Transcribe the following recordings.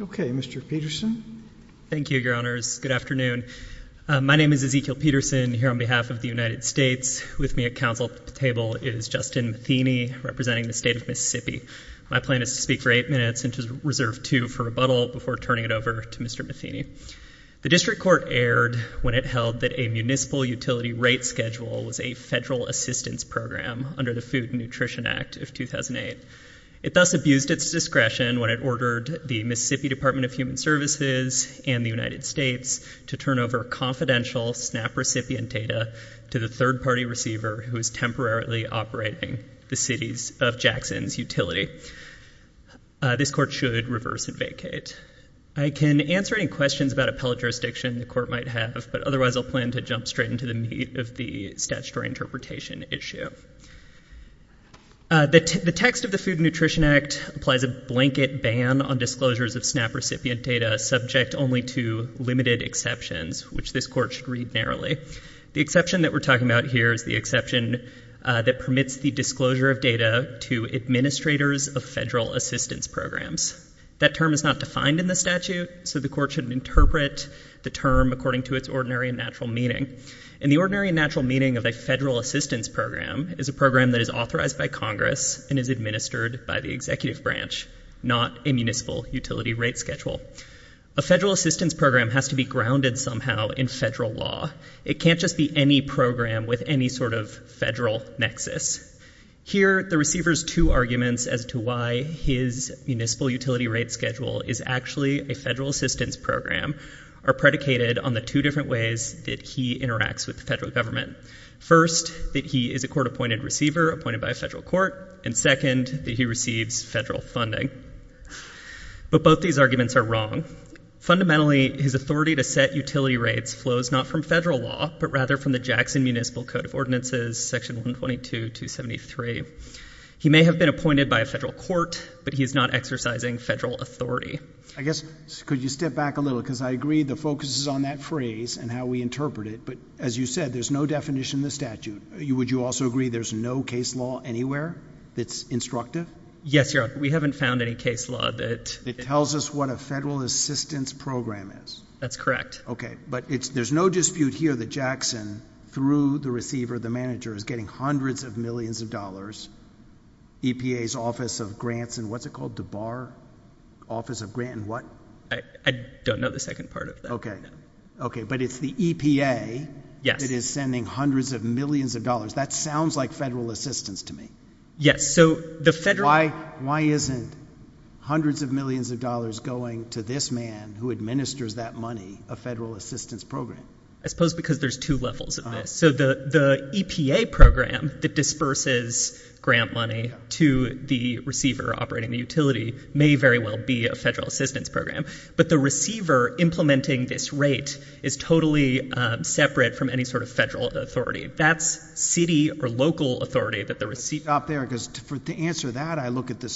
Okay, Mr. Peterson. Thank you, your honors. Good afternoon. My name is Ezekiel Peterson here on behalf of the United States. With me at council table is Justin Matheny, representing the state of Mississippi. My plan is to speak for eight minutes and to reserve two for rebuttal before turning it over to Mr. Matheny. The district court erred when it held that a municipal utility rate schedule was a federal assistance program under the Food and Nutrition Act of 2008. It thus abused its discretion when it ordered the Mississippi Department of Human Services and the United States to turn over confidential SNAP recipient data to the third-party receiver who is temporarily operating the cities of Jackson's utility. This court should reverse it vacate. I can answer any questions about appellate jurisdiction the court might have, but otherwise I'll plan to jump straight into the meat of the statutory interpretation issue. The text of the Food and Nutrition Act applies a blanket ban on disclosures of SNAP recipient data subject only to limited exceptions, which this court should read narrowly. The exception that we're talking about here is the exception that permits the disclosure of data to administrators of federal assistance programs. That term is not defined in the statute, so the court shouldn't interpret the term according to its ordinary and natural meaning. And the ordinary and natural meaning of a federal assistance program is a program that is authorized by Congress and is administered by the executive branch, not a municipal utility rate schedule. A federal assistance program has to be grounded somehow in federal law. It can't just be any program with any sort of federal nexus. Here the receiver's two arguments as to why his municipal utility rate schedule is actually a federal assistance program are predicated on the two different ways that he interacts with the federal government. First, that he is a court-appointed receiver appointed by a federal court, and second, that he receives federal funding. But both these arguments are wrong. Fundamentally, his authority to set utility rates flows not from federal law, but rather from the Jackson Municipal Code of Ordinances, section 122-273. He may have been appointed by a federal court, but he's not exercising federal authority. I guess, could you step back a little? Because I agree the focus is on that phrase and how we interpret it, but as you said, there's no definition in the statute. Would you also agree there's no case law anywhere that's instructive? Yes, Your Honor. We haven't found any case law that... That tells us what a federal assistance program is. That's correct. Okay. But there's no dispute here that Jackson, through the receiver, the manager, is getting hundreds of millions of dollars, EPA's Office of Grants, and what's it called? DeBar? Office of Grant and what? I don't know the second part of that. Okay. Okay. But it's the EPA that is sending hundreds of millions of dollars. That sounds like federal assistance to me. Yes. So the federal... Why isn't hundreds of millions of dollars going to this man who administers that money, a federal assistance program? I suppose because there's two levels of this. So the EPA program that disperses grant money to the receiver operating the utility may very well be a federal assistance program, but the receiver implementing this rate is totally separate from any sort of federal authority. That's city or local authority that the receiver... I'll stop there because to answer that, I look at the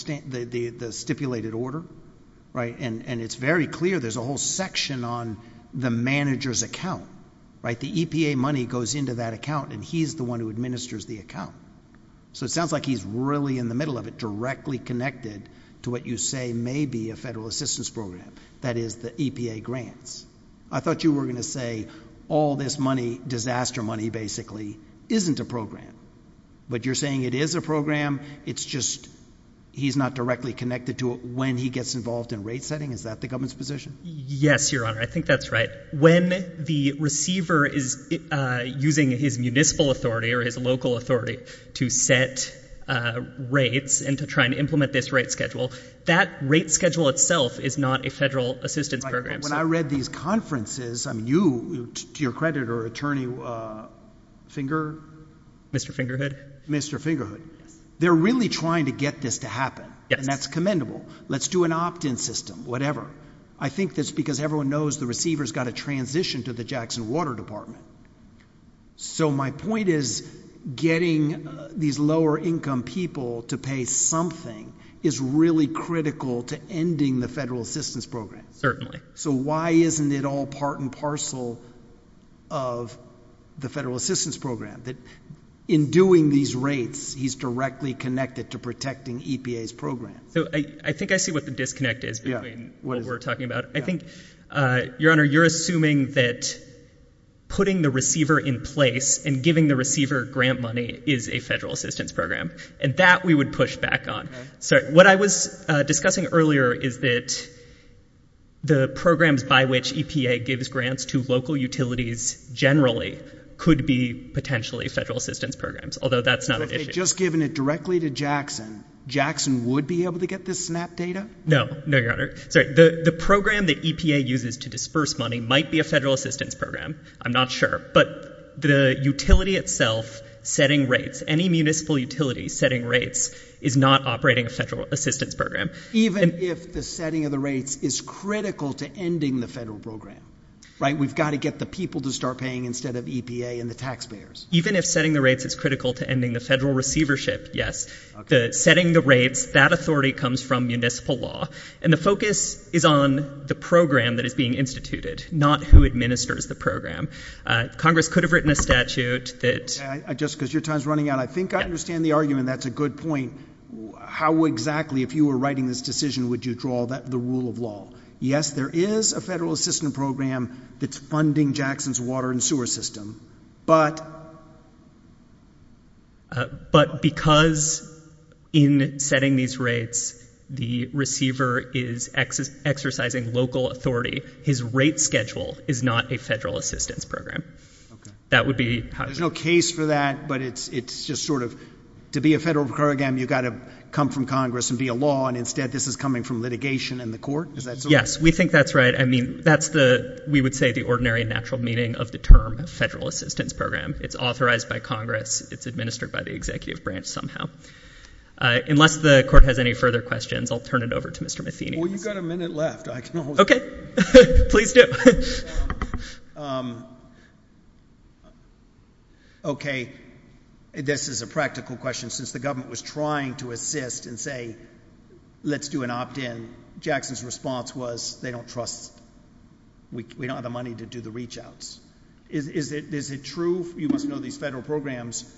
stipulated order, right? And it's very clear there's a whole section on the manager's account, right? The EPA money goes into that account and he's the one who administers the account. So it sounds like he's really in the middle of it, directly connected to what you say may be a federal assistance program, that is the EPA grants. I thought you were going to say all this money, disaster money basically, isn't a program. But you're saying it is a program, it's just he's not directly connected to it when he gets involved in rate setting? Is that the government's position? Yes, Your Honor. I think that's right. When the receiver is using his municipal authority or his local authority to set rates and to try and implement this rate schedule, that rate schedule itself is not a federal assistance program. When I read these conferences, I mean, you, to your credit or attorney, Finger? Mr. Fingerhood. Mr. Fingerhood. Yes. So they're really trying to get this to happen. Yes. And that's commendable. Let's do an opt-in system, whatever. I think that's because everyone knows the receiver's got to transition to the Jackson Water Department. So my point is getting these lower income people to pay something is really critical to ending the federal assistance program. Certainly. So why isn't it all part and parcel of the federal assistance program? That in doing these rates, he's directly connected to protecting EPA's program. I think I see what the disconnect is between what we're talking about. I think, Your Honor, you're assuming that putting the receiver in place and giving the receiver grant money is a federal assistance program. And that we would push back on. So what I was discussing earlier is that the programs by which EPA gives grants to local utilities generally could be potentially federal assistance programs. Although that's not an issue. So if they'd just given it directly to Jackson, Jackson would be able to get this SNAP data? No. No, Your Honor. Sorry. The program that EPA uses to disperse money might be a federal assistance program. I'm not sure. But the utility itself, setting rates, any municipal utility setting rates is not operating a federal assistance program. Even if the setting of the rates is critical to ending the federal program, right? We've got to get the people to start paying instead of EPA and the taxpayers. Even if setting the rates is critical to ending the federal receivership, yes. The setting the rates, that authority comes from municipal law. And the focus is on the program that is being instituted, not who administers the program. Congress could have written a statute that... Just because your time's running out, I think I understand the argument. That's a good point. How exactly, if you were writing this decision, would you draw the rule of law? Yes, there is a federal assistance program that's funding Jackson's water and sewer system. But... But because in setting these rates, the receiver is exercising local authority, his rate schedule is not a federal assistance program. That would be... There's no case for that, but it's just sort of, to be a federal program, you've got to come from Congress and be a law. And instead, this is coming from litigation and the court? Yes, we think that's right. I mean, that's the, we would say, the ordinary and natural meaning of the term federal assistance program. It's authorized by Congress. It's administered by the executive branch somehow. Unless the court has any further questions, I'll turn it over to Mr. Matheny. Well, you've got a minute left. I can always... Okay. Please do. Okay. This is a practical question. Since the government was trying to assist and say, let's do an opt-in, Jackson's response was, they don't trust... We don't have the money to do the reach-outs. Is it true, you must know these federal programs,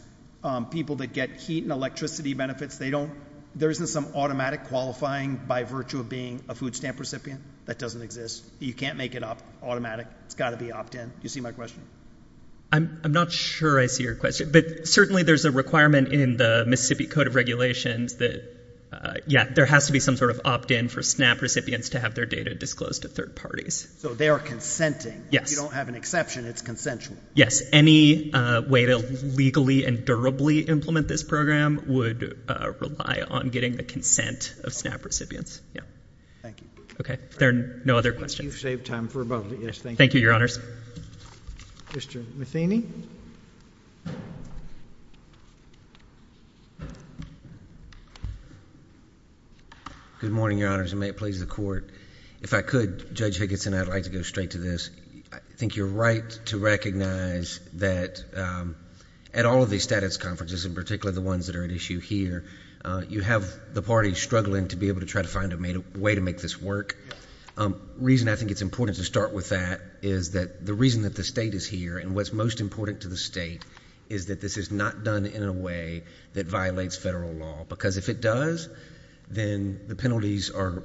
people that get heat and electricity benefits, they don't... There isn't some automatic qualifying by virtue of being a food stamp recipient? That doesn't exist. You can't make it up, automatic. It's got to be opt-in. Do you see my question? I'm not sure I see your question, but certainly there's a requirement in the Mississippi Code of Regulations that, yeah, there has to be some sort of opt-in for SNAP recipients to have their data disclosed to third parties. So they are consenting. Yes. If you don't have an exception, it's consensual. Yes. Any way to legally and durably implement this program would rely on getting the consent of SNAP recipients. Yeah. Thank you. Okay. If there are no other questions... You've saved time for both. Yes, thank you. Thank you, Your Honors. Mr. Matheny. Good morning, Your Honors, and may it please the Court. If I could, Judge Higginson, I'd like to go straight to this. I think you're right to recognize that at all of these status conferences, in particular the ones that are at issue here, you have the parties struggling to be able to try to find a way to make this work. The reason I think it's important to start with that is that the reason that the State is here, and what's most important to the State, is that this is not done in a way that violates federal law. Because if it does, then the penalties are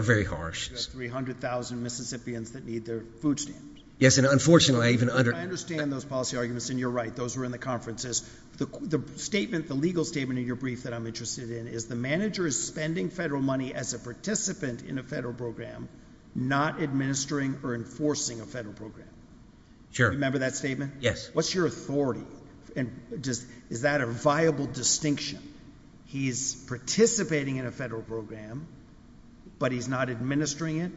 very harsh. You have 300,000 Mississippians that need their food stamped. Yes, and unfortunately, I even under... I understand those policy arguments, and you're right. Those were in the conferences. The statement, the legal statement in your brief that I'm interested in, is the manager is spending federal money as a participant in a federal program, not administering or enforcing a federal program. Sure. Remember that statement? Yes. What's your authority? Is that a viable distinction? He is participating in a federal program, but he's not administering it,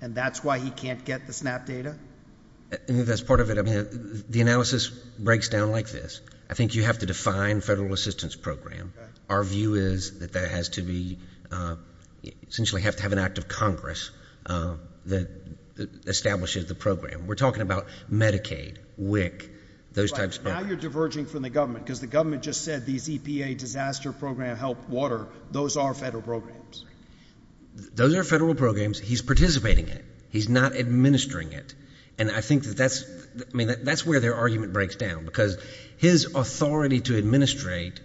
and that's why he can't get the SNAP data? That's part of it. The analysis breaks down like this. I think you have to define federal assistance program. Our view is that that has to be, essentially have to have an act of Congress that establishes the program. We're talking about Medicaid, WIC, those types of programs. Right. Now you're diverging from the government, because the government just said these EPA disaster program help water. Those are federal programs. Those are federal programs. He's participating in it. He's not administering it, and I think that that's where their argument breaks down, because his authority to administrate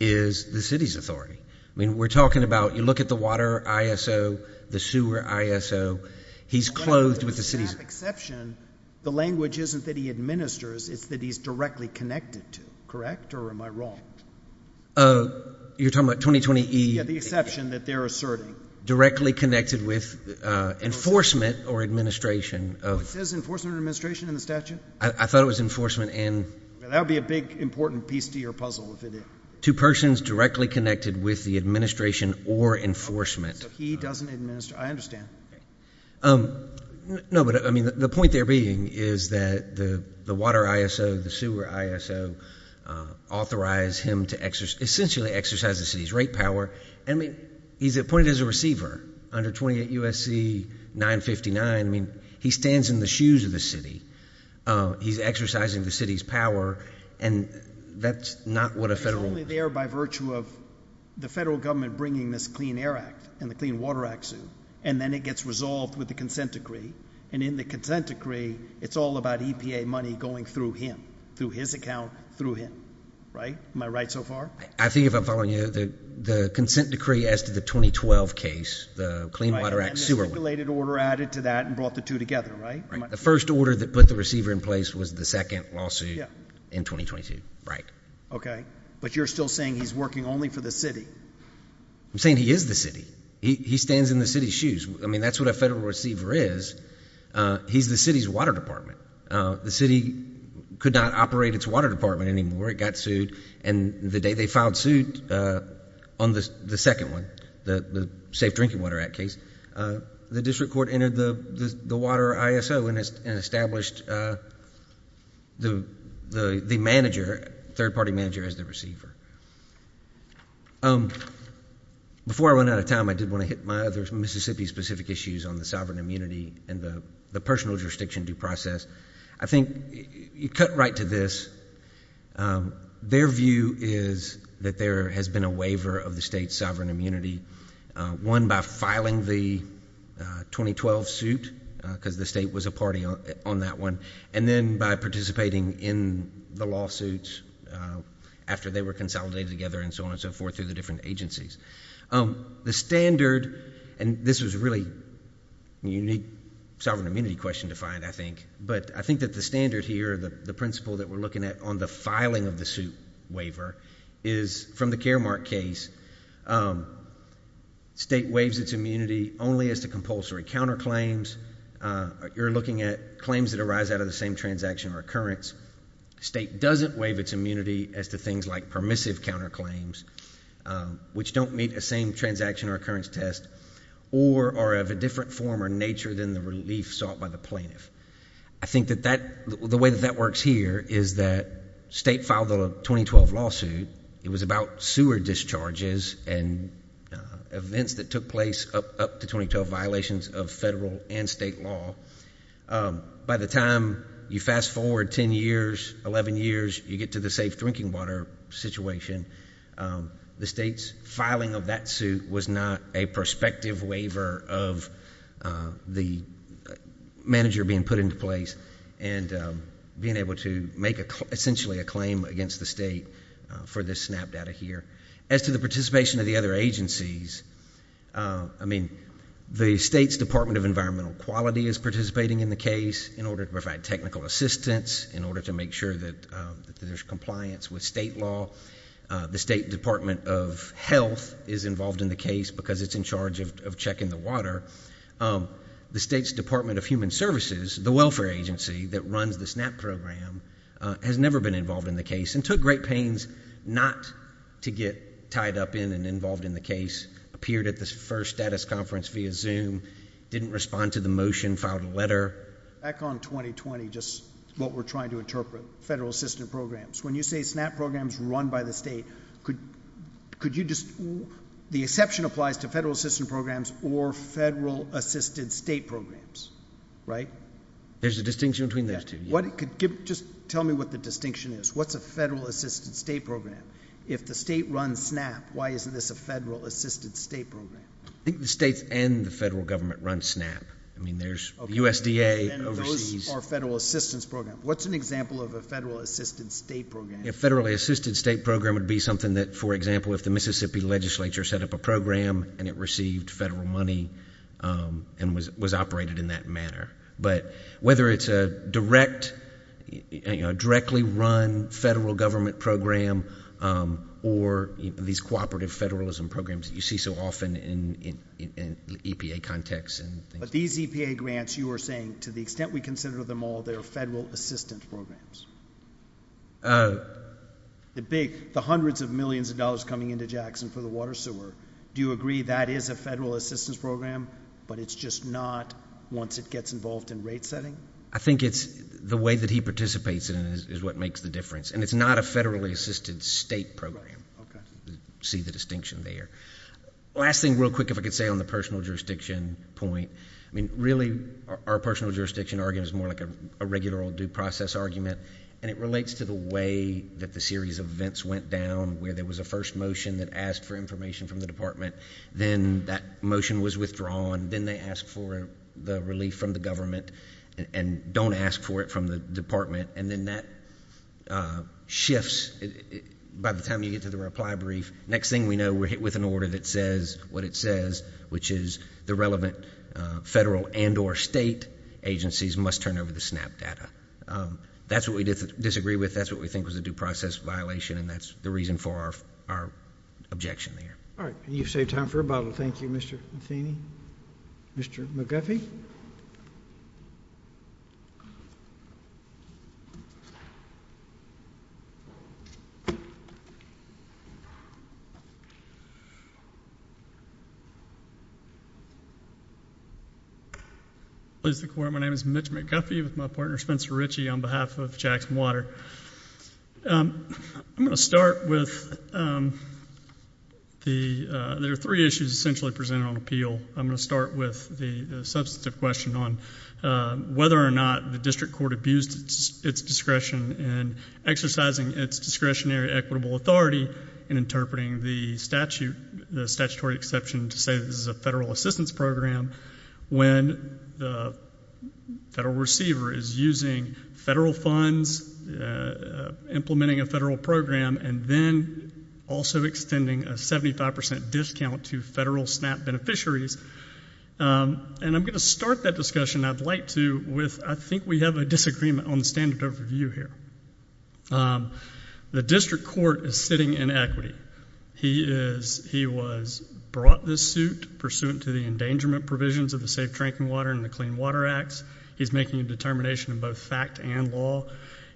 is the city's authority. We're talking about, you look at the water ISO, the sewer ISO, he's clothed with the city's- With the SNAP exception, the language isn't that he administers, it's that he's directly connected to, correct, or am I wrong? You're talking about 2020- Yeah, the exception that they're asserting. Directly connected with enforcement or administration of- It says enforcement or administration in the statute? I thought it was enforcement in- That would be a big, important piece to your puzzle if it is. To persons directly connected with the administration or enforcement. So he doesn't administer. I understand. No, but the point there being is that the water ISO, the sewer ISO, authorize him to essentially exercise the city's rate power. He's appointed as a receiver under 28 U.S.C. 959. He stands in the shoes of the city. He's exercising the city's power, and that's not what a federal- It's only there by virtue of the federal government bringing this Clean Air Act and the Clean Water Act suit, and then it gets resolved with the consent decree. In the consent decree, it's all about EPA money going through him, through his account, through him. Am I right so far? I think if I'm following you, the consent decree as to the 2012 case, the Clean Water Act order added to that and brought the two together, right? The first order that put the receiver in place was the second lawsuit in 2022, right. Okay. But you're still saying he's working only for the city? I'm saying he is the city. He stands in the city's shoes. I mean, that's what a federal receiver is. He's the city's water department. The city could not operate its water department anymore. It got sued, and the day they filed suit on the second one, the Safe Drinking Water Act case, the district court entered the water ISO and established the third-party manager as the receiver. Before I run out of time, I did want to hit my other Mississippi-specific issues on the sovereign immunity and the personal jurisdiction due process. I think you cut right to this. Their view is that there has been a waiver of the state's sovereign immunity, one by filing the 2012 suit, because the state was a party on that one, and then by participating in the lawsuits after they were consolidated together and so on and so forth through the different agencies. The standard, and this was a really unique sovereign immunity question to find, I think, that the standard here, the principle that we're looking at on the filing of the suit waiver, is from the Caremark case, state waives its immunity only as to compulsory counterclaims. You're looking at claims that arise out of the same transaction or occurrence. State doesn't waive its immunity as to things like permissive counterclaims, which don't meet a same transaction or occurrence test, or are of a different form or nature than the relief sought by the plaintiff. I think that the way that that works here is that state filed a 2012 lawsuit. It was about sewer discharges and events that took place up to 2012, violations of federal and state law. By the time you fast forward 10 years, 11 years, you get to the safe drinking water situation. The state's filing of that suit was not a prospective waiver of the manager being put into place and being able to make essentially a claim against the state for this SNAP data here. As to the participation of the other agencies, I mean, the state's Department of Environmental Quality is participating in the case in order to provide technical assistance, in order to make sure that there's compliance with state law. The State Department of Health is involved in the case because it's in charge of checking the water. The state's Department of Human Services, the welfare agency that runs the SNAP program, has never been involved in the case and took great pains not to get tied up in and involved in the case, appeared at the first status conference via Zoom, didn't respond to the motion, filed a letter. Back on 2020, just what we're trying to interpret, federal assistant programs, when you say SNAP programs run by the state, could you just, the exception applies to federal assistant programs or federal assisted state programs, right? There's a distinction between those two. Just tell me what the distinction is. What's a federal assisted state program? If the state runs SNAP, why isn't this a federal assisted state program? I think the states and the federal government run SNAP. I mean, there's USDA overseas. Those are federal assistance programs. What's an example of a federal assisted state program? A federally assisted state program would be something that, for example, if the Mississippi legislature set up a program and it received federal money and was operated in that manner. But whether it's a direct, directly run federal government program or these cooperative federalism programs that you see so often in EPA context. But these EPA grants, you are saying, to the extent we consider them all, they're federal assistant programs. The big, the hundreds of millions of dollars coming into Jackson for the water sewer, do you agree that is a federal assistance program, but it's just not once it gets involved in rate setting? I think it's the way that he participates in it is what makes the difference. And it's not a federally assisted state program. You can see the distinction there. Last thing real quick, if I could say on the personal jurisdiction point. I mean, really, our personal jurisdiction argument is more like a regular old due process argument. And it relates to the way that the series of events went down where there was a first motion that asked for information from the department. Then that motion was withdrawn. Then they asked for the relief from the government and don't ask for it from the department. And then that shifts by the time you get to the reply brief. Next thing we know, we're hit with an order that says what it says, which is the relevant federal and or state agencies must turn over the SNAP data. That's what we disagree with. That's what we think was a due process violation. And that's the reason for our objection there. All right. You've saved time for a bottle. Thank you, Mr. Matheny. Mr. McGuffey. Please, the court. My name is Mitch McGuffey with my partner, Spencer Ritchie, on behalf of Jackson Water. I'm going to start with there are three issues essentially presented on appeal. I'm going to start with the substantive question on whether or not the district court abused its discretion in exercising its discretionary equitable authority in interpreting the statutory exception to say this is a federal assistance program when the federal receiver is using federal funds, implementing a federal program, and then also extending a 75% discount to federal SNAP beneficiaries. And I'm going to start that discussion, I'd like to, with I think we have a disagreement on the standard overview here. The district court is sitting in equity. He was brought this suit pursuant to the endangerment provisions of the Safe Drinking Water and the Clean Water Acts. He's making a determination in both fact and law.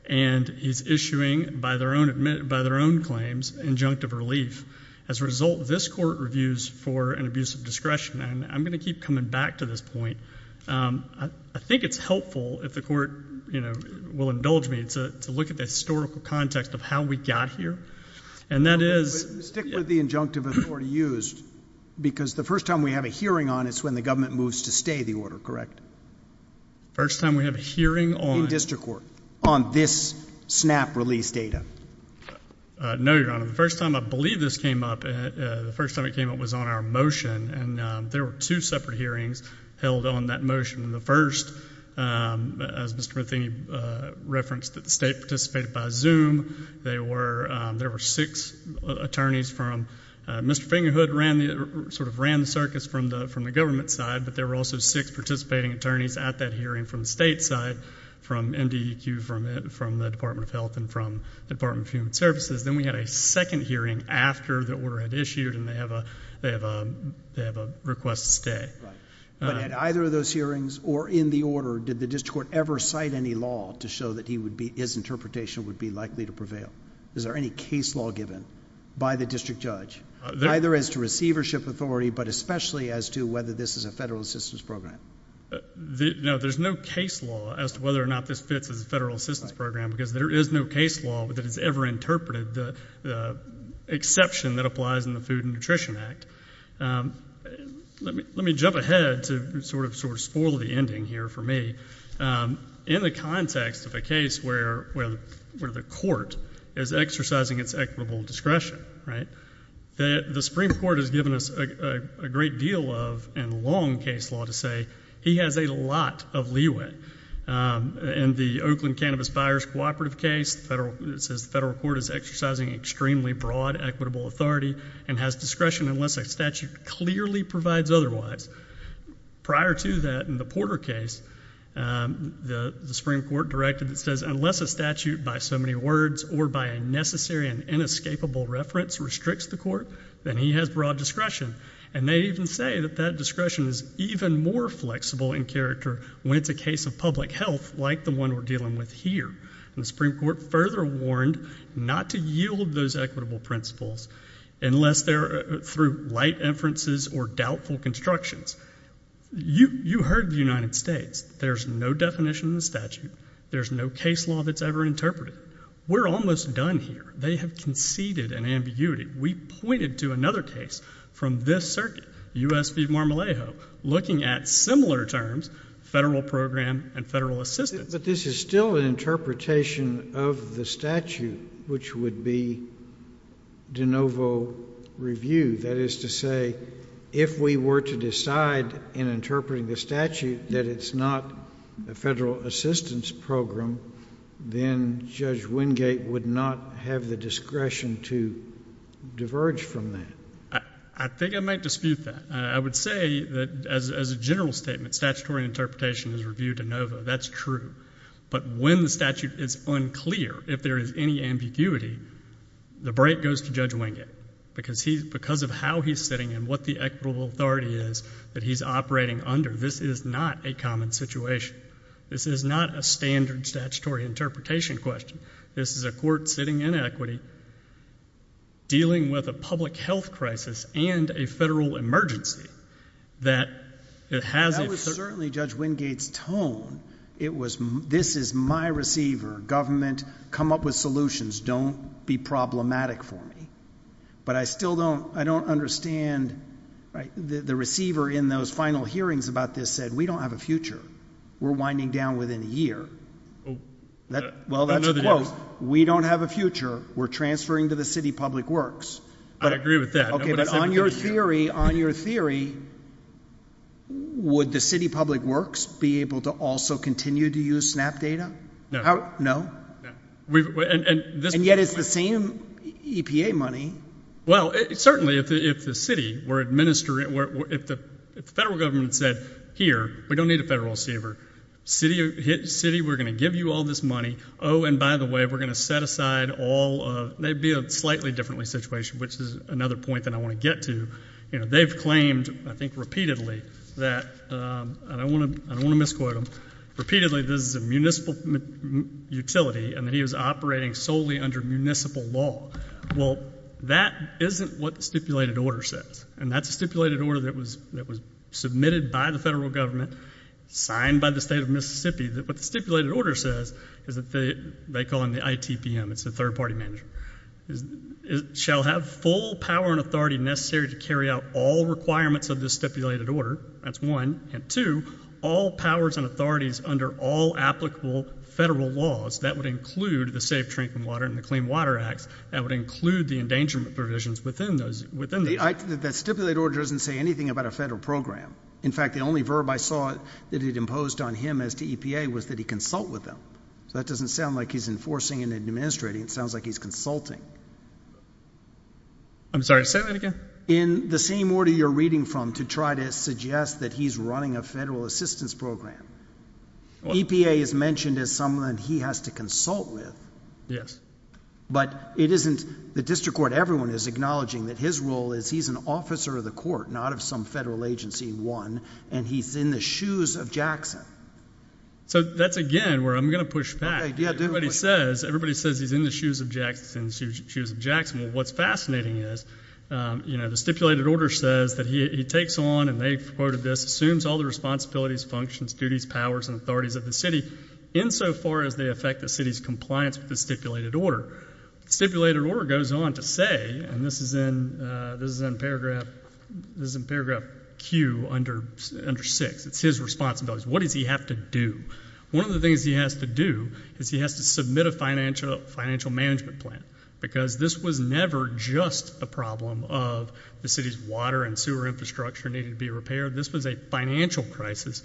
And he's issuing, by their own claims, injunctive relief. As a result, this court reviews for an abuse of discretion. And I'm going to keep coming back to this point. I think it's helpful, if the court will indulge me, to look at the historical context of how we got here. And that is- But stick with the injunctive authority used. Because the first time we have a hearing on it is when the government moves to stay the order, correct? The first time we have a hearing on- In district court. On this SNAP release data. No, Your Honor. The first time I believe this came up, the first time it came up was on our motion. And there were two separate hearings held on that motion. The first, as Mr. Matheny referenced, that the state participated by Zoom. There were six attorneys from- Mr. Fingerhood ran the circus from the government side. But there were also six participating attorneys at that hearing from the state side. From MDEQ, from the Department of Health, and from the Department of Human Services. Then we had a second hearing after the order had issued. And they have a request to stay. But at either of those hearings, or in the order, did the district court ever cite any law to show that his interpretation would be likely to prevail? Is there any case law given by the district judge, either as to receivership authority, but especially as to whether this is a federal assistance program? No, there's no case law as to whether or not this fits as a federal assistance program. Because there is no case law that has ever interpreted the exception that applies in the Food and Nutrition Act. Let me jump ahead to sort of spoil the ending here for me. In the context of a case where the court is exercising its equitable discretion, the Supreme Court has given us a great deal of, and long case law to say, he has a lot of leeway. In the Oakland Cannabis Buyers Cooperative case, it says the federal court is exercising extremely broad equitable authority, and has discretion unless a statute clearly provides otherwise. Prior to that, in the Porter case, the Supreme Court directed, it says, unless a statute by so many words or by a necessary and inescapable reference restricts the court, then he has broad discretion. And they even say that that discretion is even more flexible in character when it's a case of public health, like the one we're dealing with here. And the Supreme Court further warned not to yield those equitable principles unless they're through light inferences or doubtful constructions. You heard the United States. There's no definition in the statute. There's no case law that's ever interpreted. We're almost done here. They have conceded an ambiguity. We pointed to another case from this circuit, U.S. v. Marmalejo, looking at similar terms, federal program and federal assistance. But this is still an interpretation of the statute, which would be de novo review. That is to say, if we were to decide in interpreting the statute that it's not a federal assistance program, then Judge Wingate would not have the discretion to diverge from that. I think I might dispute that. I would say that as a general statement, statutory interpretation is review de novo. That's true. But when the statute is unclear, if there is any ambiguity, the break goes to Judge Wingate, because of how he's sitting and what the equitable authority is that he's operating under. This is not a common situation. This is not a standard statutory interpretation question. This is a court sitting in equity, dealing with a public health crisis and a federal emergency. That it has a certain— That was certainly Judge Wingate's tone. It was, this is my receiver. Government, come up with solutions. Don't be problematic for me. But I still don't understand, the receiver in those final hearings about this said, we don't have a future. We're winding down within a year. Well, that's a quote. We don't have a future. We're transferring to the city public works. I agree with that. Okay, but on your theory, on your theory, would the city public works be able to also continue to use SNAP data? No. No? No. And yet, it's the same EPA money. Well, certainly, if the city were administering, if the federal government said, here, we don't need a federal receiver. City, we're going to give you all this money. Oh, and by the way, we're going to set aside all, that would be a slightly different situation, which is another point that I want to get to. They've claimed, I think repeatedly, that, and I don't mean utility, and that he was operating solely under municipal law. Well, that isn't what the stipulated order says. And that's a stipulated order that was submitted by the federal government, signed by the state of Mississippi, that what the stipulated order says is that they, they call them the ITPM, it's the third party manager, shall have full power and authority necessary to carry out all requirements of this stipulated order. That's one. And two, all powers and authorities under all applicable federal laws, that would include the Safe Drinking Water and the Clean Water Acts, that would include the endangerment provisions within those, within those. The stipulated order doesn't say anything about a federal program. In fact, the only verb I saw that it imposed on him as to EPA was that he consult with them. So that doesn't sound like he's enforcing and administrating. It sounds like he's consulting. I'm sorry, say that again. In the same order you're reading from, to try to suggest that he's running a federal assistance program. EPA is mentioned as someone he has to consult with. Yes. But it isn't, the district court, everyone is acknowledging that his role is he's an officer of the court, not of some federal agency, one, and he's in the shoes of Jackson. So that's again where I'm going to push back. Okay, do it. Everybody says, everybody says he's in the shoes of Jackson. Well, what's fascinating is, you know, the stipulated order says that he takes on, and they've quoted this, assumes all the responsibilities, functions, duties, powers, and authorities of the city insofar as they affect the city's compliance with the stipulated order. The stipulated order goes on to say, and this is in paragraph Q under 6, it's his responsibilities. What does he have to do? One of the things he has to do is he has to submit a financial management plan, because this was never just a problem of the city's water and sewer infrastructure needing to be repaired. This was a financial crisis.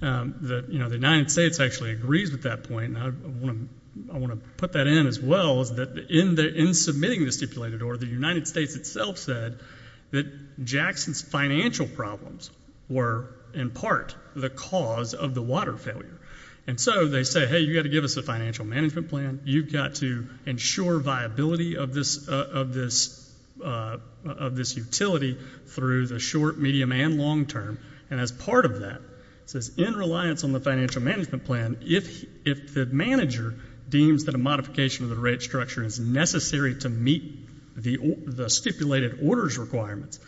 The United States actually agrees with that point, and I want to put that in as well, is that in submitting the stipulated order, the United States itself said that Jackson's financial problems were in part the cause of the water failure. And so they say, hey, you've got to give us a financial management plan. You've got to ensure viability of this, of this, of this utility through the short, medium, and long term. And as part of that, it says in reliance on the financial management plan, if the manager deems that a modification of the rate structure is necessary to meet the stipulated orders requirements,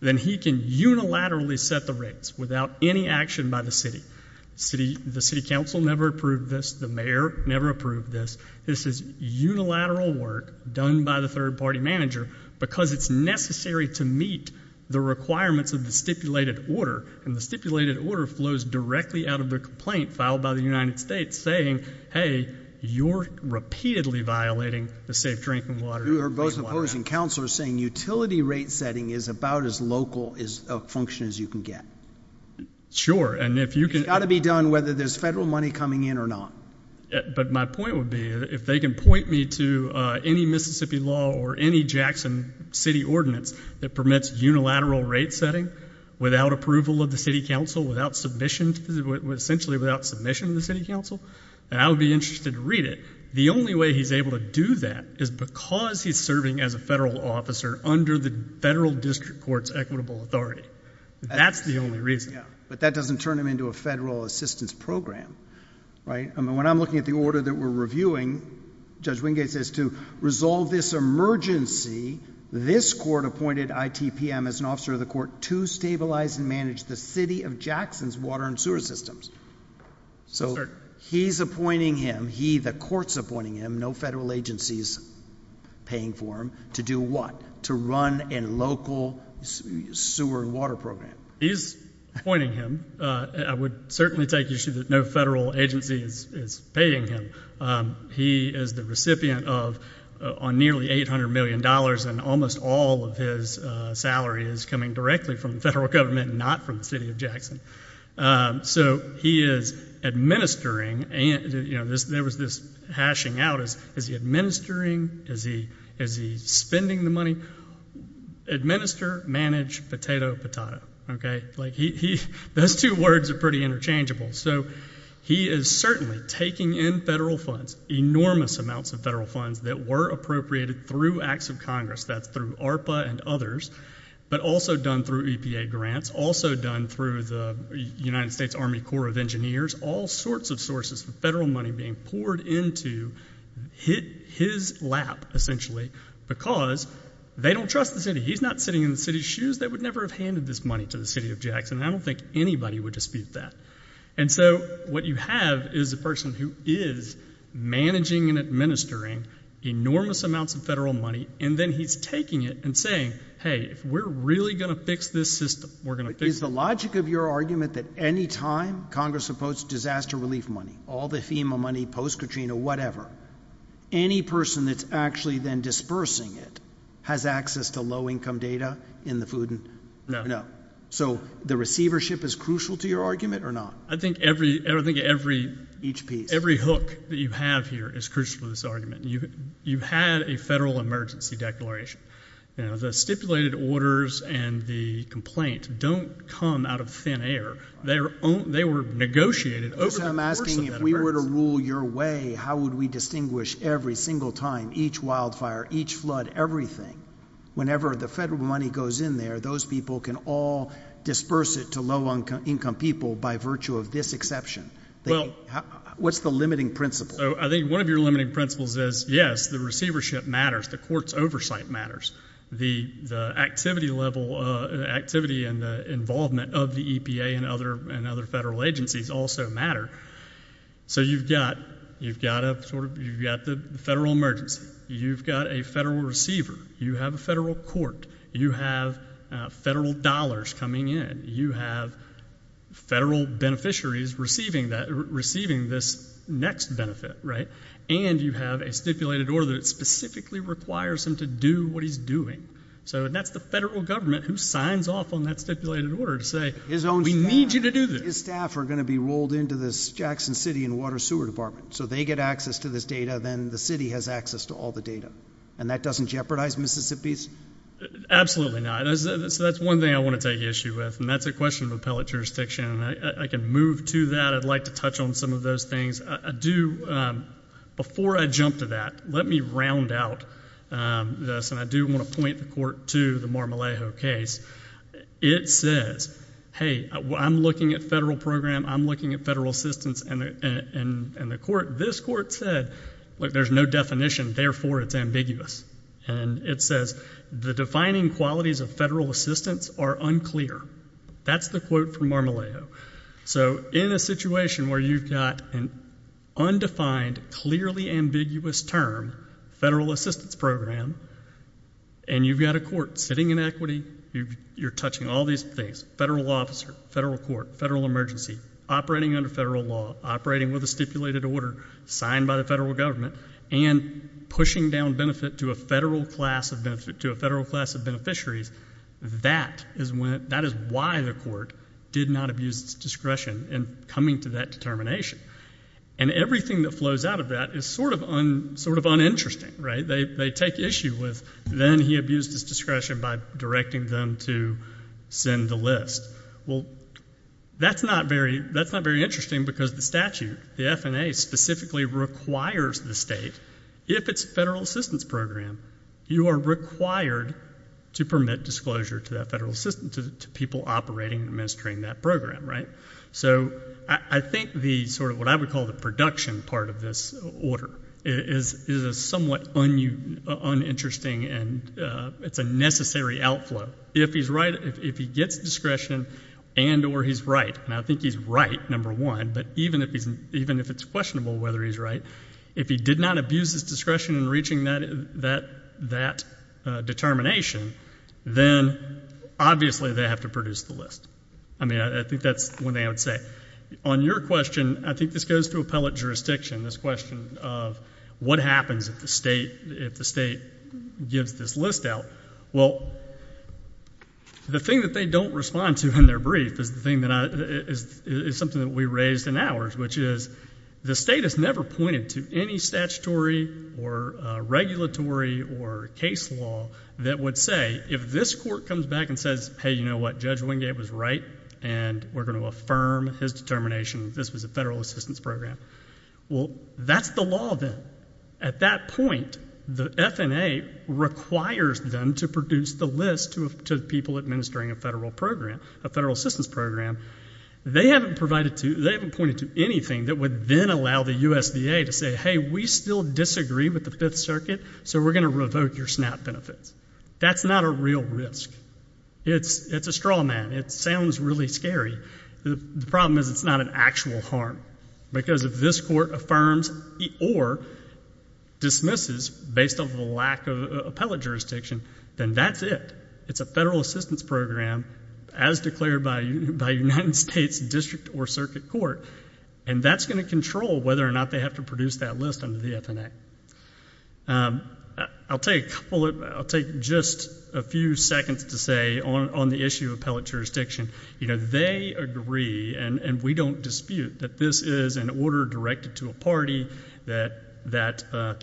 then he can unilaterally set the rates without any action by the city. The city council never approved this. The mayor never approved this. This is unilateral work done by the third-party manager because it's necessary to meet the requirements of the stipulated order. And the stipulated order flows directly out of the complaint filed by the United States saying, hey, you're repeatedly violating the safe drinking water. You are both opposing. Councilor is saying utility rate setting is about as local a function as you can get. Sure. And if you can It's got to be done whether there's federal money coming in or not. But my point would be, if they can point me to any Mississippi law or any Jackson City ordinance that permits unilateral rate setting without approval of the city council, essentially without submission of the city council, then I would be interested to read it. The only way he's able to do that is because he's serving as a federal officer under the federal district court's equitable authority. That's the only reason. But that doesn't turn him into a federal assistance program, right? When I'm looking at the order that we're reviewing, Judge Wingate says to resolve this emergency, this court appointed ITPM as an officer of the court to stabilize and manage the city of Jackson's water and sewer systems. So he's appointing him, he, the court's appointing him, no federal agency's paying for him, to do what? To run a local sewer and water program. He's appointing him. I would certainly take issue that no federal agency is paying him. He is the recipient of nearly $800 million, and almost all of his salary is coming directly from the federal government, not from the city of Jackson. So he is administering, there was this hashing out, is he administering, is he spending the money? Administer, manage, potato, potata. Okay? Those two words are pretty interchangeable. So he is certainly taking in federal funds, enormous amounts of federal funds that were appropriated through acts of Congress, that's through ARPA and others, but also done through EPA grants, also done through the United States Army Corps of Engineers, all sorts of sources of federal money being poured into his lap, essentially, because they don't trust the city. He's not sitting in the city's shoes. They would never have handed this money to the city of Jackson. I don't think anybody would dispute that. And so what you have is a person who is managing and administering enormous amounts of federal money, and then he's taking it and saying, hey, if we're really going to fix this system, we're going to fix it. Is the logic of your argument that any time Congress supports disaster relief money, all the FEMA money, post-Katrina, whatever, any person that's actually then dispersing it has access to low-income data in the food? No. So the receivership is crucial to your argument, or not? I think every hook that you have here is crucial to this argument. You had a federal emergency declaration. The stipulated orders and the complaint don't come out of thin air. They were negotiated over the course of that. So I'm asking, if we were to rule your way, how would we distinguish every single time, each wildfire, each flood, everything, whenever the federal money goes in there, those people can all disperse it to low-income people by virtue of this exception? What's the limiting principle? I think one of your limiting principles is, yes, the receivership matters. The court's oversight matters. The activity and the involvement of the EPA and other federal agencies also matter. So you've got the federal emergency. You've got a federal receiver. You have a federal court. You have federal dollars coming in. You have federal beneficiaries receiving this next benefit, right? And you have a stipulated order that specifically requires him to do what he's doing. So that's the federal government who signs off on that stipulated order to say, we need you to do this. But his staff are going to be rolled into this Jackson City and Water Sewer Department. So they get access to this data. Then the city has access to all the data. And that doesn't jeopardize Mississippi's? Absolutely not. So that's one thing I want to take issue with. And that's a question of appellate jurisdiction. And I can move to that. I'd like to touch on some of those things. Before I jump to that, let me round out this. And I do want to point the court to the Marmalejo case. It says, hey, I'm looking at federal program. I'm looking at federal assistance. And this court said, look, there's no definition. Therefore, it's ambiguous. And it says, the defining qualities of federal assistance are unclear. That's the quote from Marmalejo. So in a situation where you've got an undefined, clearly ambiguous term, federal assistance program, and you've got a court sitting in equity, you're touching all these things, federal officer, federal court, federal emergency, operating under federal law, operating with a stipulated order signed by the federal government, and pushing down benefit to a federal class of beneficiaries, that is why the court did not abuse its discretion in coming to that determination. And everything that flows out of that is sort of uninteresting. They take issue with, then he abused his discretion by directing them to send the list. Well, that's not very interesting because the statute, the FNA, specifically requires the state, if it's a federal assistance program, you are required to permit disclosure to that federal assistance, to people operating and administering that program. So I think what I would call the production part of this order is somewhat uninteresting and it's a necessary outflow. If he gets discretion and or he's right, and I think he's right number one, but even if it's questionable whether he's right, if he did not abuse his discretion in reaching that determination, then obviously they have to produce the list. I mean, I think that's one thing I would say. On your question, I think this goes to appellate jurisdiction, this question of what happens if the state gives this list out. Well, the thing that they don't respond to in their brief is something that we raised in ours, which is the state has never pointed to any statutory or regulatory or case law that would say, if this court comes back and says, hey, you know what, Judge Wingate was right and we're going to affirm his determination, this was a federal assistance program. Well, that's the law then. At that point, the FNA requires them to produce the list to people administering a federal program, a federal assistance program. They haven't pointed to anything that would then allow the USDA to say, hey, we still disagree with the Fifth Circuit, so we're going to revoke your SNAP benefits. That's not a real risk. It's a straw man. It sounds really scary. The problem is it's not an actual harm, because if this court affirms or dismisses based on the lack of appellate jurisdiction, then that's it. It's a federal assistance program as declared by United States District or Circuit Court, and that's going to control whether or not they have to produce that list under the FNA. I'll take just a few seconds to say on the issue of appellate jurisdiction, they agree, and we don't dispute, that this is an order directed to a party that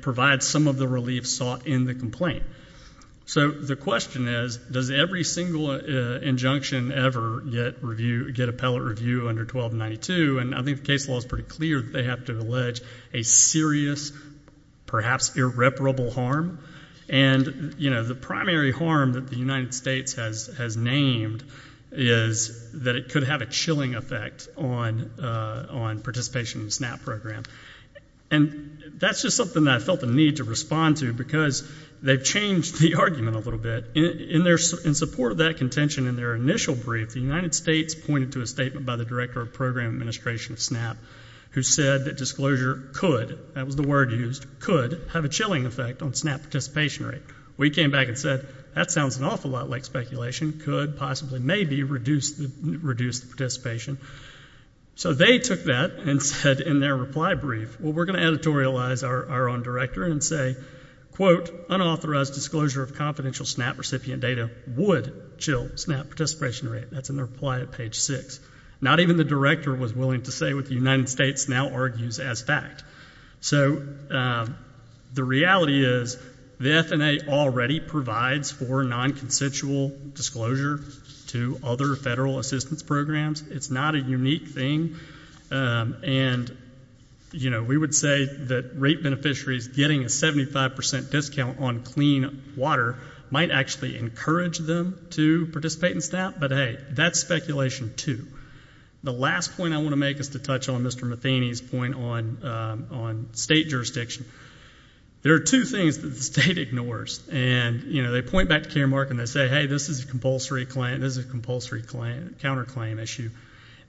provides some of the relief sought in the complaint. So the question is, does every single injunction ever get appellate review under 1292? I think the case law is pretty clear that they have to allege a serious, perhaps irreparable harm, and the primary harm that the United States has named is that it could have a chilling effect on participation in the SNAP program. That's just something that I felt the need to respond to, because they've changed the argument a little bit. In support of that contention in their initial brief, the United States pointed to a statement by the Director of Program Administration of SNAP, who said that disclosure could, that was the word used, could have a chilling effect on SNAP participation rate. We came back and said, that sounds an awful lot like speculation. Could possibly, maybe, reduce the participation. So they took that and said in their reply brief, well, we're going to editorialize our own director and say, quote, unauthorized disclosure of confidential SNAP recipient data would chill SNAP participation rate. That's in their reply at page 6. Not even the director was willing to say what the United States now argues as fact. So the reality is, the F&A already provides for non-consensual disclosure to other federal assistance programs. It's not a unique thing. And we would say that rate beneficiaries getting a 75% discount on clean water might actually encourage them to participate in SNAP. But hey, that's speculation too. The last point I want to make is to touch on Mr. Matheny's point on state jurisdiction. There are two things that the state ignores. And they point back to Karen Mark and they say, hey, this is a compulsory counterclaim issue.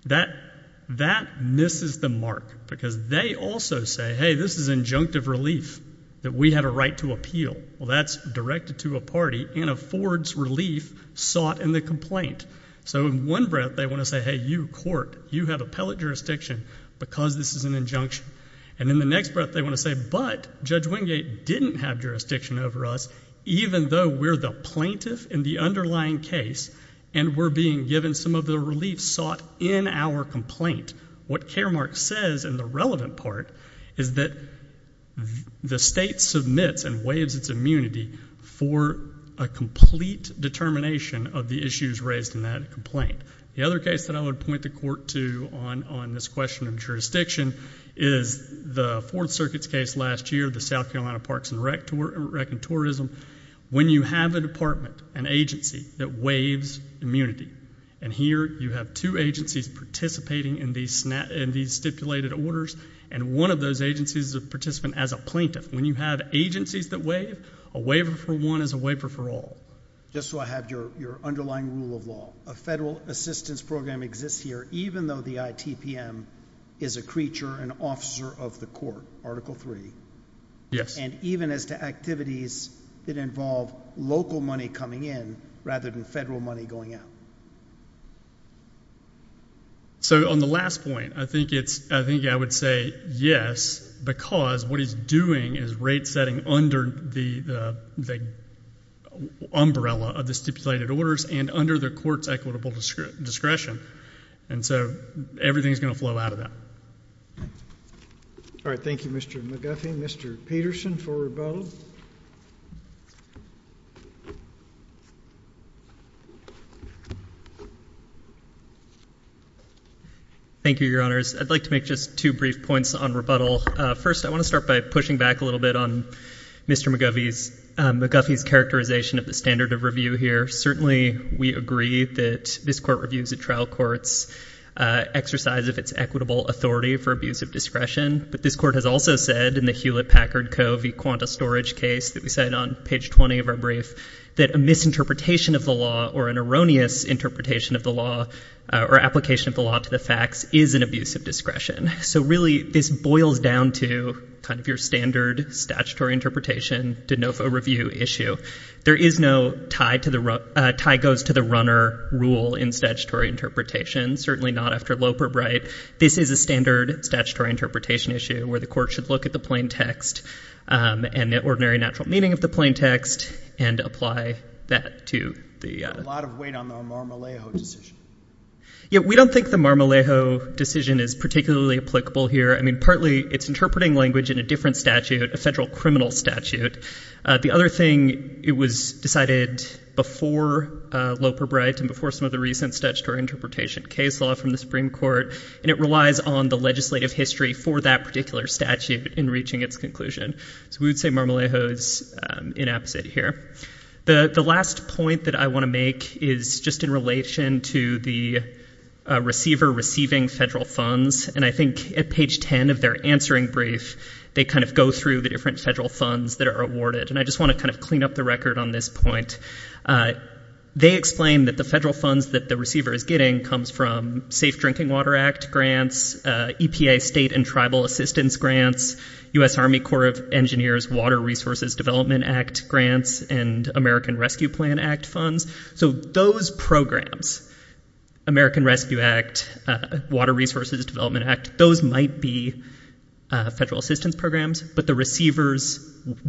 That misses the mark because they also say, hey, this is injunctive relief that we had a right to appeal. Well, that's directed to a party and affords relief sought in the complaint. So in one breath, they want to say, hey, you court, you have appellate jurisdiction because this is an injunction. And in the next breath, they want to say, but Judge Wingate didn't have jurisdiction over us even though we're the plaintiff in the underlying case and we're being given some of the relief sought in our complaint. What Karen Mark says in the relevant part is that the state submits and waives its immunity for a complete determination of the issues raised in that complaint. The other case that I would point the court to on this question of jurisdiction is the Fourth Circuit's case last year, the South Carolina Parks and Rec and Tourism. When you have a department, an agency, that waives immunity and here you have two agencies participating in these stipulated orders and one of those agencies is a participant as a plaintiff. When you have agencies that waive, a waiver for one is a waiver for all. Just so I have your underlying rule of law, a federal assistance program exists here even though the ITPM is a creature, an officer of the court, Article III. Yes. Even as to activities that involve local money coming in rather than federal money going out. On the last point, I think I would say yes, because what he's doing is rate setting under the umbrella of the stipulated orders and under the court's equitable discretion. Everything is going to flow out of that. All right. Thank you, Mr. McGuffey. Mr. Peterson for rebuttal. Thank you, Your Honors. I'd like to make just two brief points on rebuttal. First, I want to start by pushing back a little bit on Mr. McGuffey's characterization of the standard of review here. Certainly, we agree that this court reviews a trial court's exercise of its equitable authority for abuse of discretion, but this court has also said in the Hewlett-Packard Co. v. Quanta Storage case that we cited on page 20 of our brief that a misinterpretation of the law or an erroneous interpretation of the law or application of the law to the facts is an abuse of discretion. Really, this boils down to your standard statutory interpretation, de novo review issue. There is no tie goes to the runner rule in statutory interpretation, certainly not after Loper Bright. This is a standard statutory interpretation issue where the court should look at the plain text and the ordinary natural meaning of the plain text and apply that to the— There's a lot of weight on the Marmolejo decision. We don't think the Marmolejo decision is particularly applicable here. I mean, partly, it's interpreting language in a different statute, a federal criminal statute. The other thing, it was decided before Loper Bright and before some of the recent statutory interpretation case law from the Supreme Court, and it relies on the legislative history for that particular statute in reaching its conclusion. We would say Marmolejo is inapposite here. The last point that I want to make is just in relation to the receiver receiving federal funds, and I think at page 10 of their answering brief, they kind of go through the different federal funds that are awarded. I just want to kind of clean up the record on this point. They explain that the federal funds that the receiver is getting comes from Safe Drinking Water Act grants, EPA state and tribal assistance grants, U.S. Army Corps of Engineers Water Resources Development Act grants, and American Rescue Plan Act funds. So those programs, American Rescue Act, Water Resources Development Act, those might be federal assistance programs, but the receiver's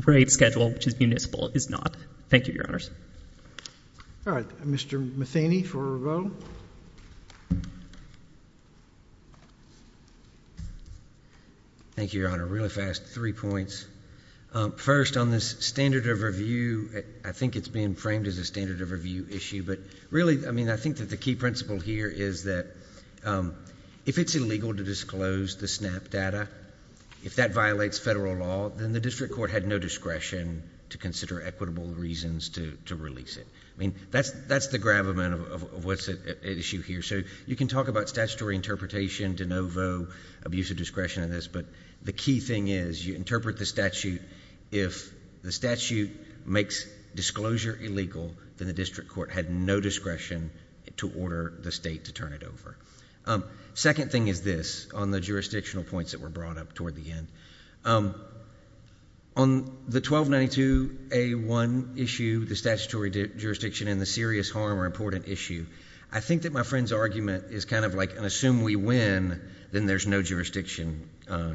rate schedule, which is municipal, is not. Thank you, Your Honors. All right. Mr. Matheny for a vote. Thank you, Your Honor. Really fast. Three points. First, on this standard of review, I think it's being framed as a standard of review issue, but really, I mean, I think that the key principle here is that if it's illegal to disclose the SNAP data, if that violates federal law, then the district court had no discretion to consider equitable reasons to release it. I mean, that's the grab amount of what's at issue here. So you can talk about statutory interpretation, de novo, abuse of discretion in this, but the key thing is you interpret the statute. If the statute makes disclosure illegal, then the district court had no discretion to order the state to turn it over. Second thing is this, on the jurisdictional points that were brought up toward the end. On the 1292A1 issue, the statutory jurisdiction and the serious harm or important issue, I think that my friend's argument is kind of like, and assume we win, then there's no jurisdiction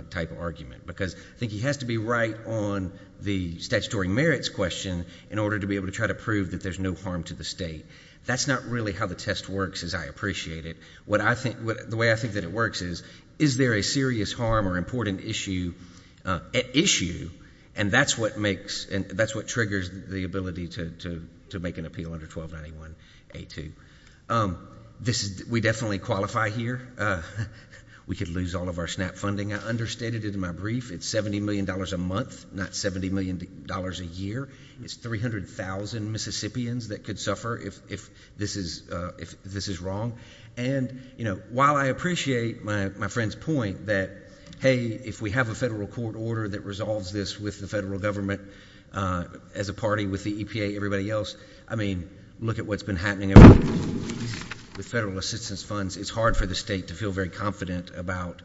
type of argument. Because I think he has to be right on the statutory merits question in order to be able to try to prove that there's no harm to the state. That's not really how the test works, as I appreciate it. The way I think that it works is, is there a serious harm or important issue at issue, and that's what triggers the ability to make an appeal under 1291A2. We definitely qualify here. We could lose all of our SNAP funding. We could lose all of our funding. I understated it in my brief. It's $70 million a month, not $70 million a year. It's 300,000 Mississippians that could suffer if this is wrong. While I appreciate my friend's point that, hey, if we have a federal court order that resolves this with the federal government, as a party, with the EPA, everybody else, look at what's been happening with federal assistance funds. It's hard for the state to feel very confident about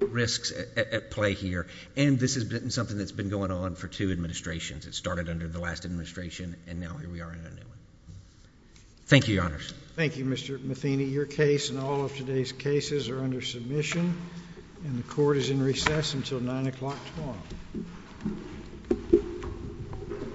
risks at play here, and this has been something that's been going on for two administrations. It started under the last administration, and now here we are in a new one. Thank you, Your Honors. Thank you, Mr. Matheny. Your case and all of today's cases are under submission, and the Court is in recess until 9 o'clock tomorrow.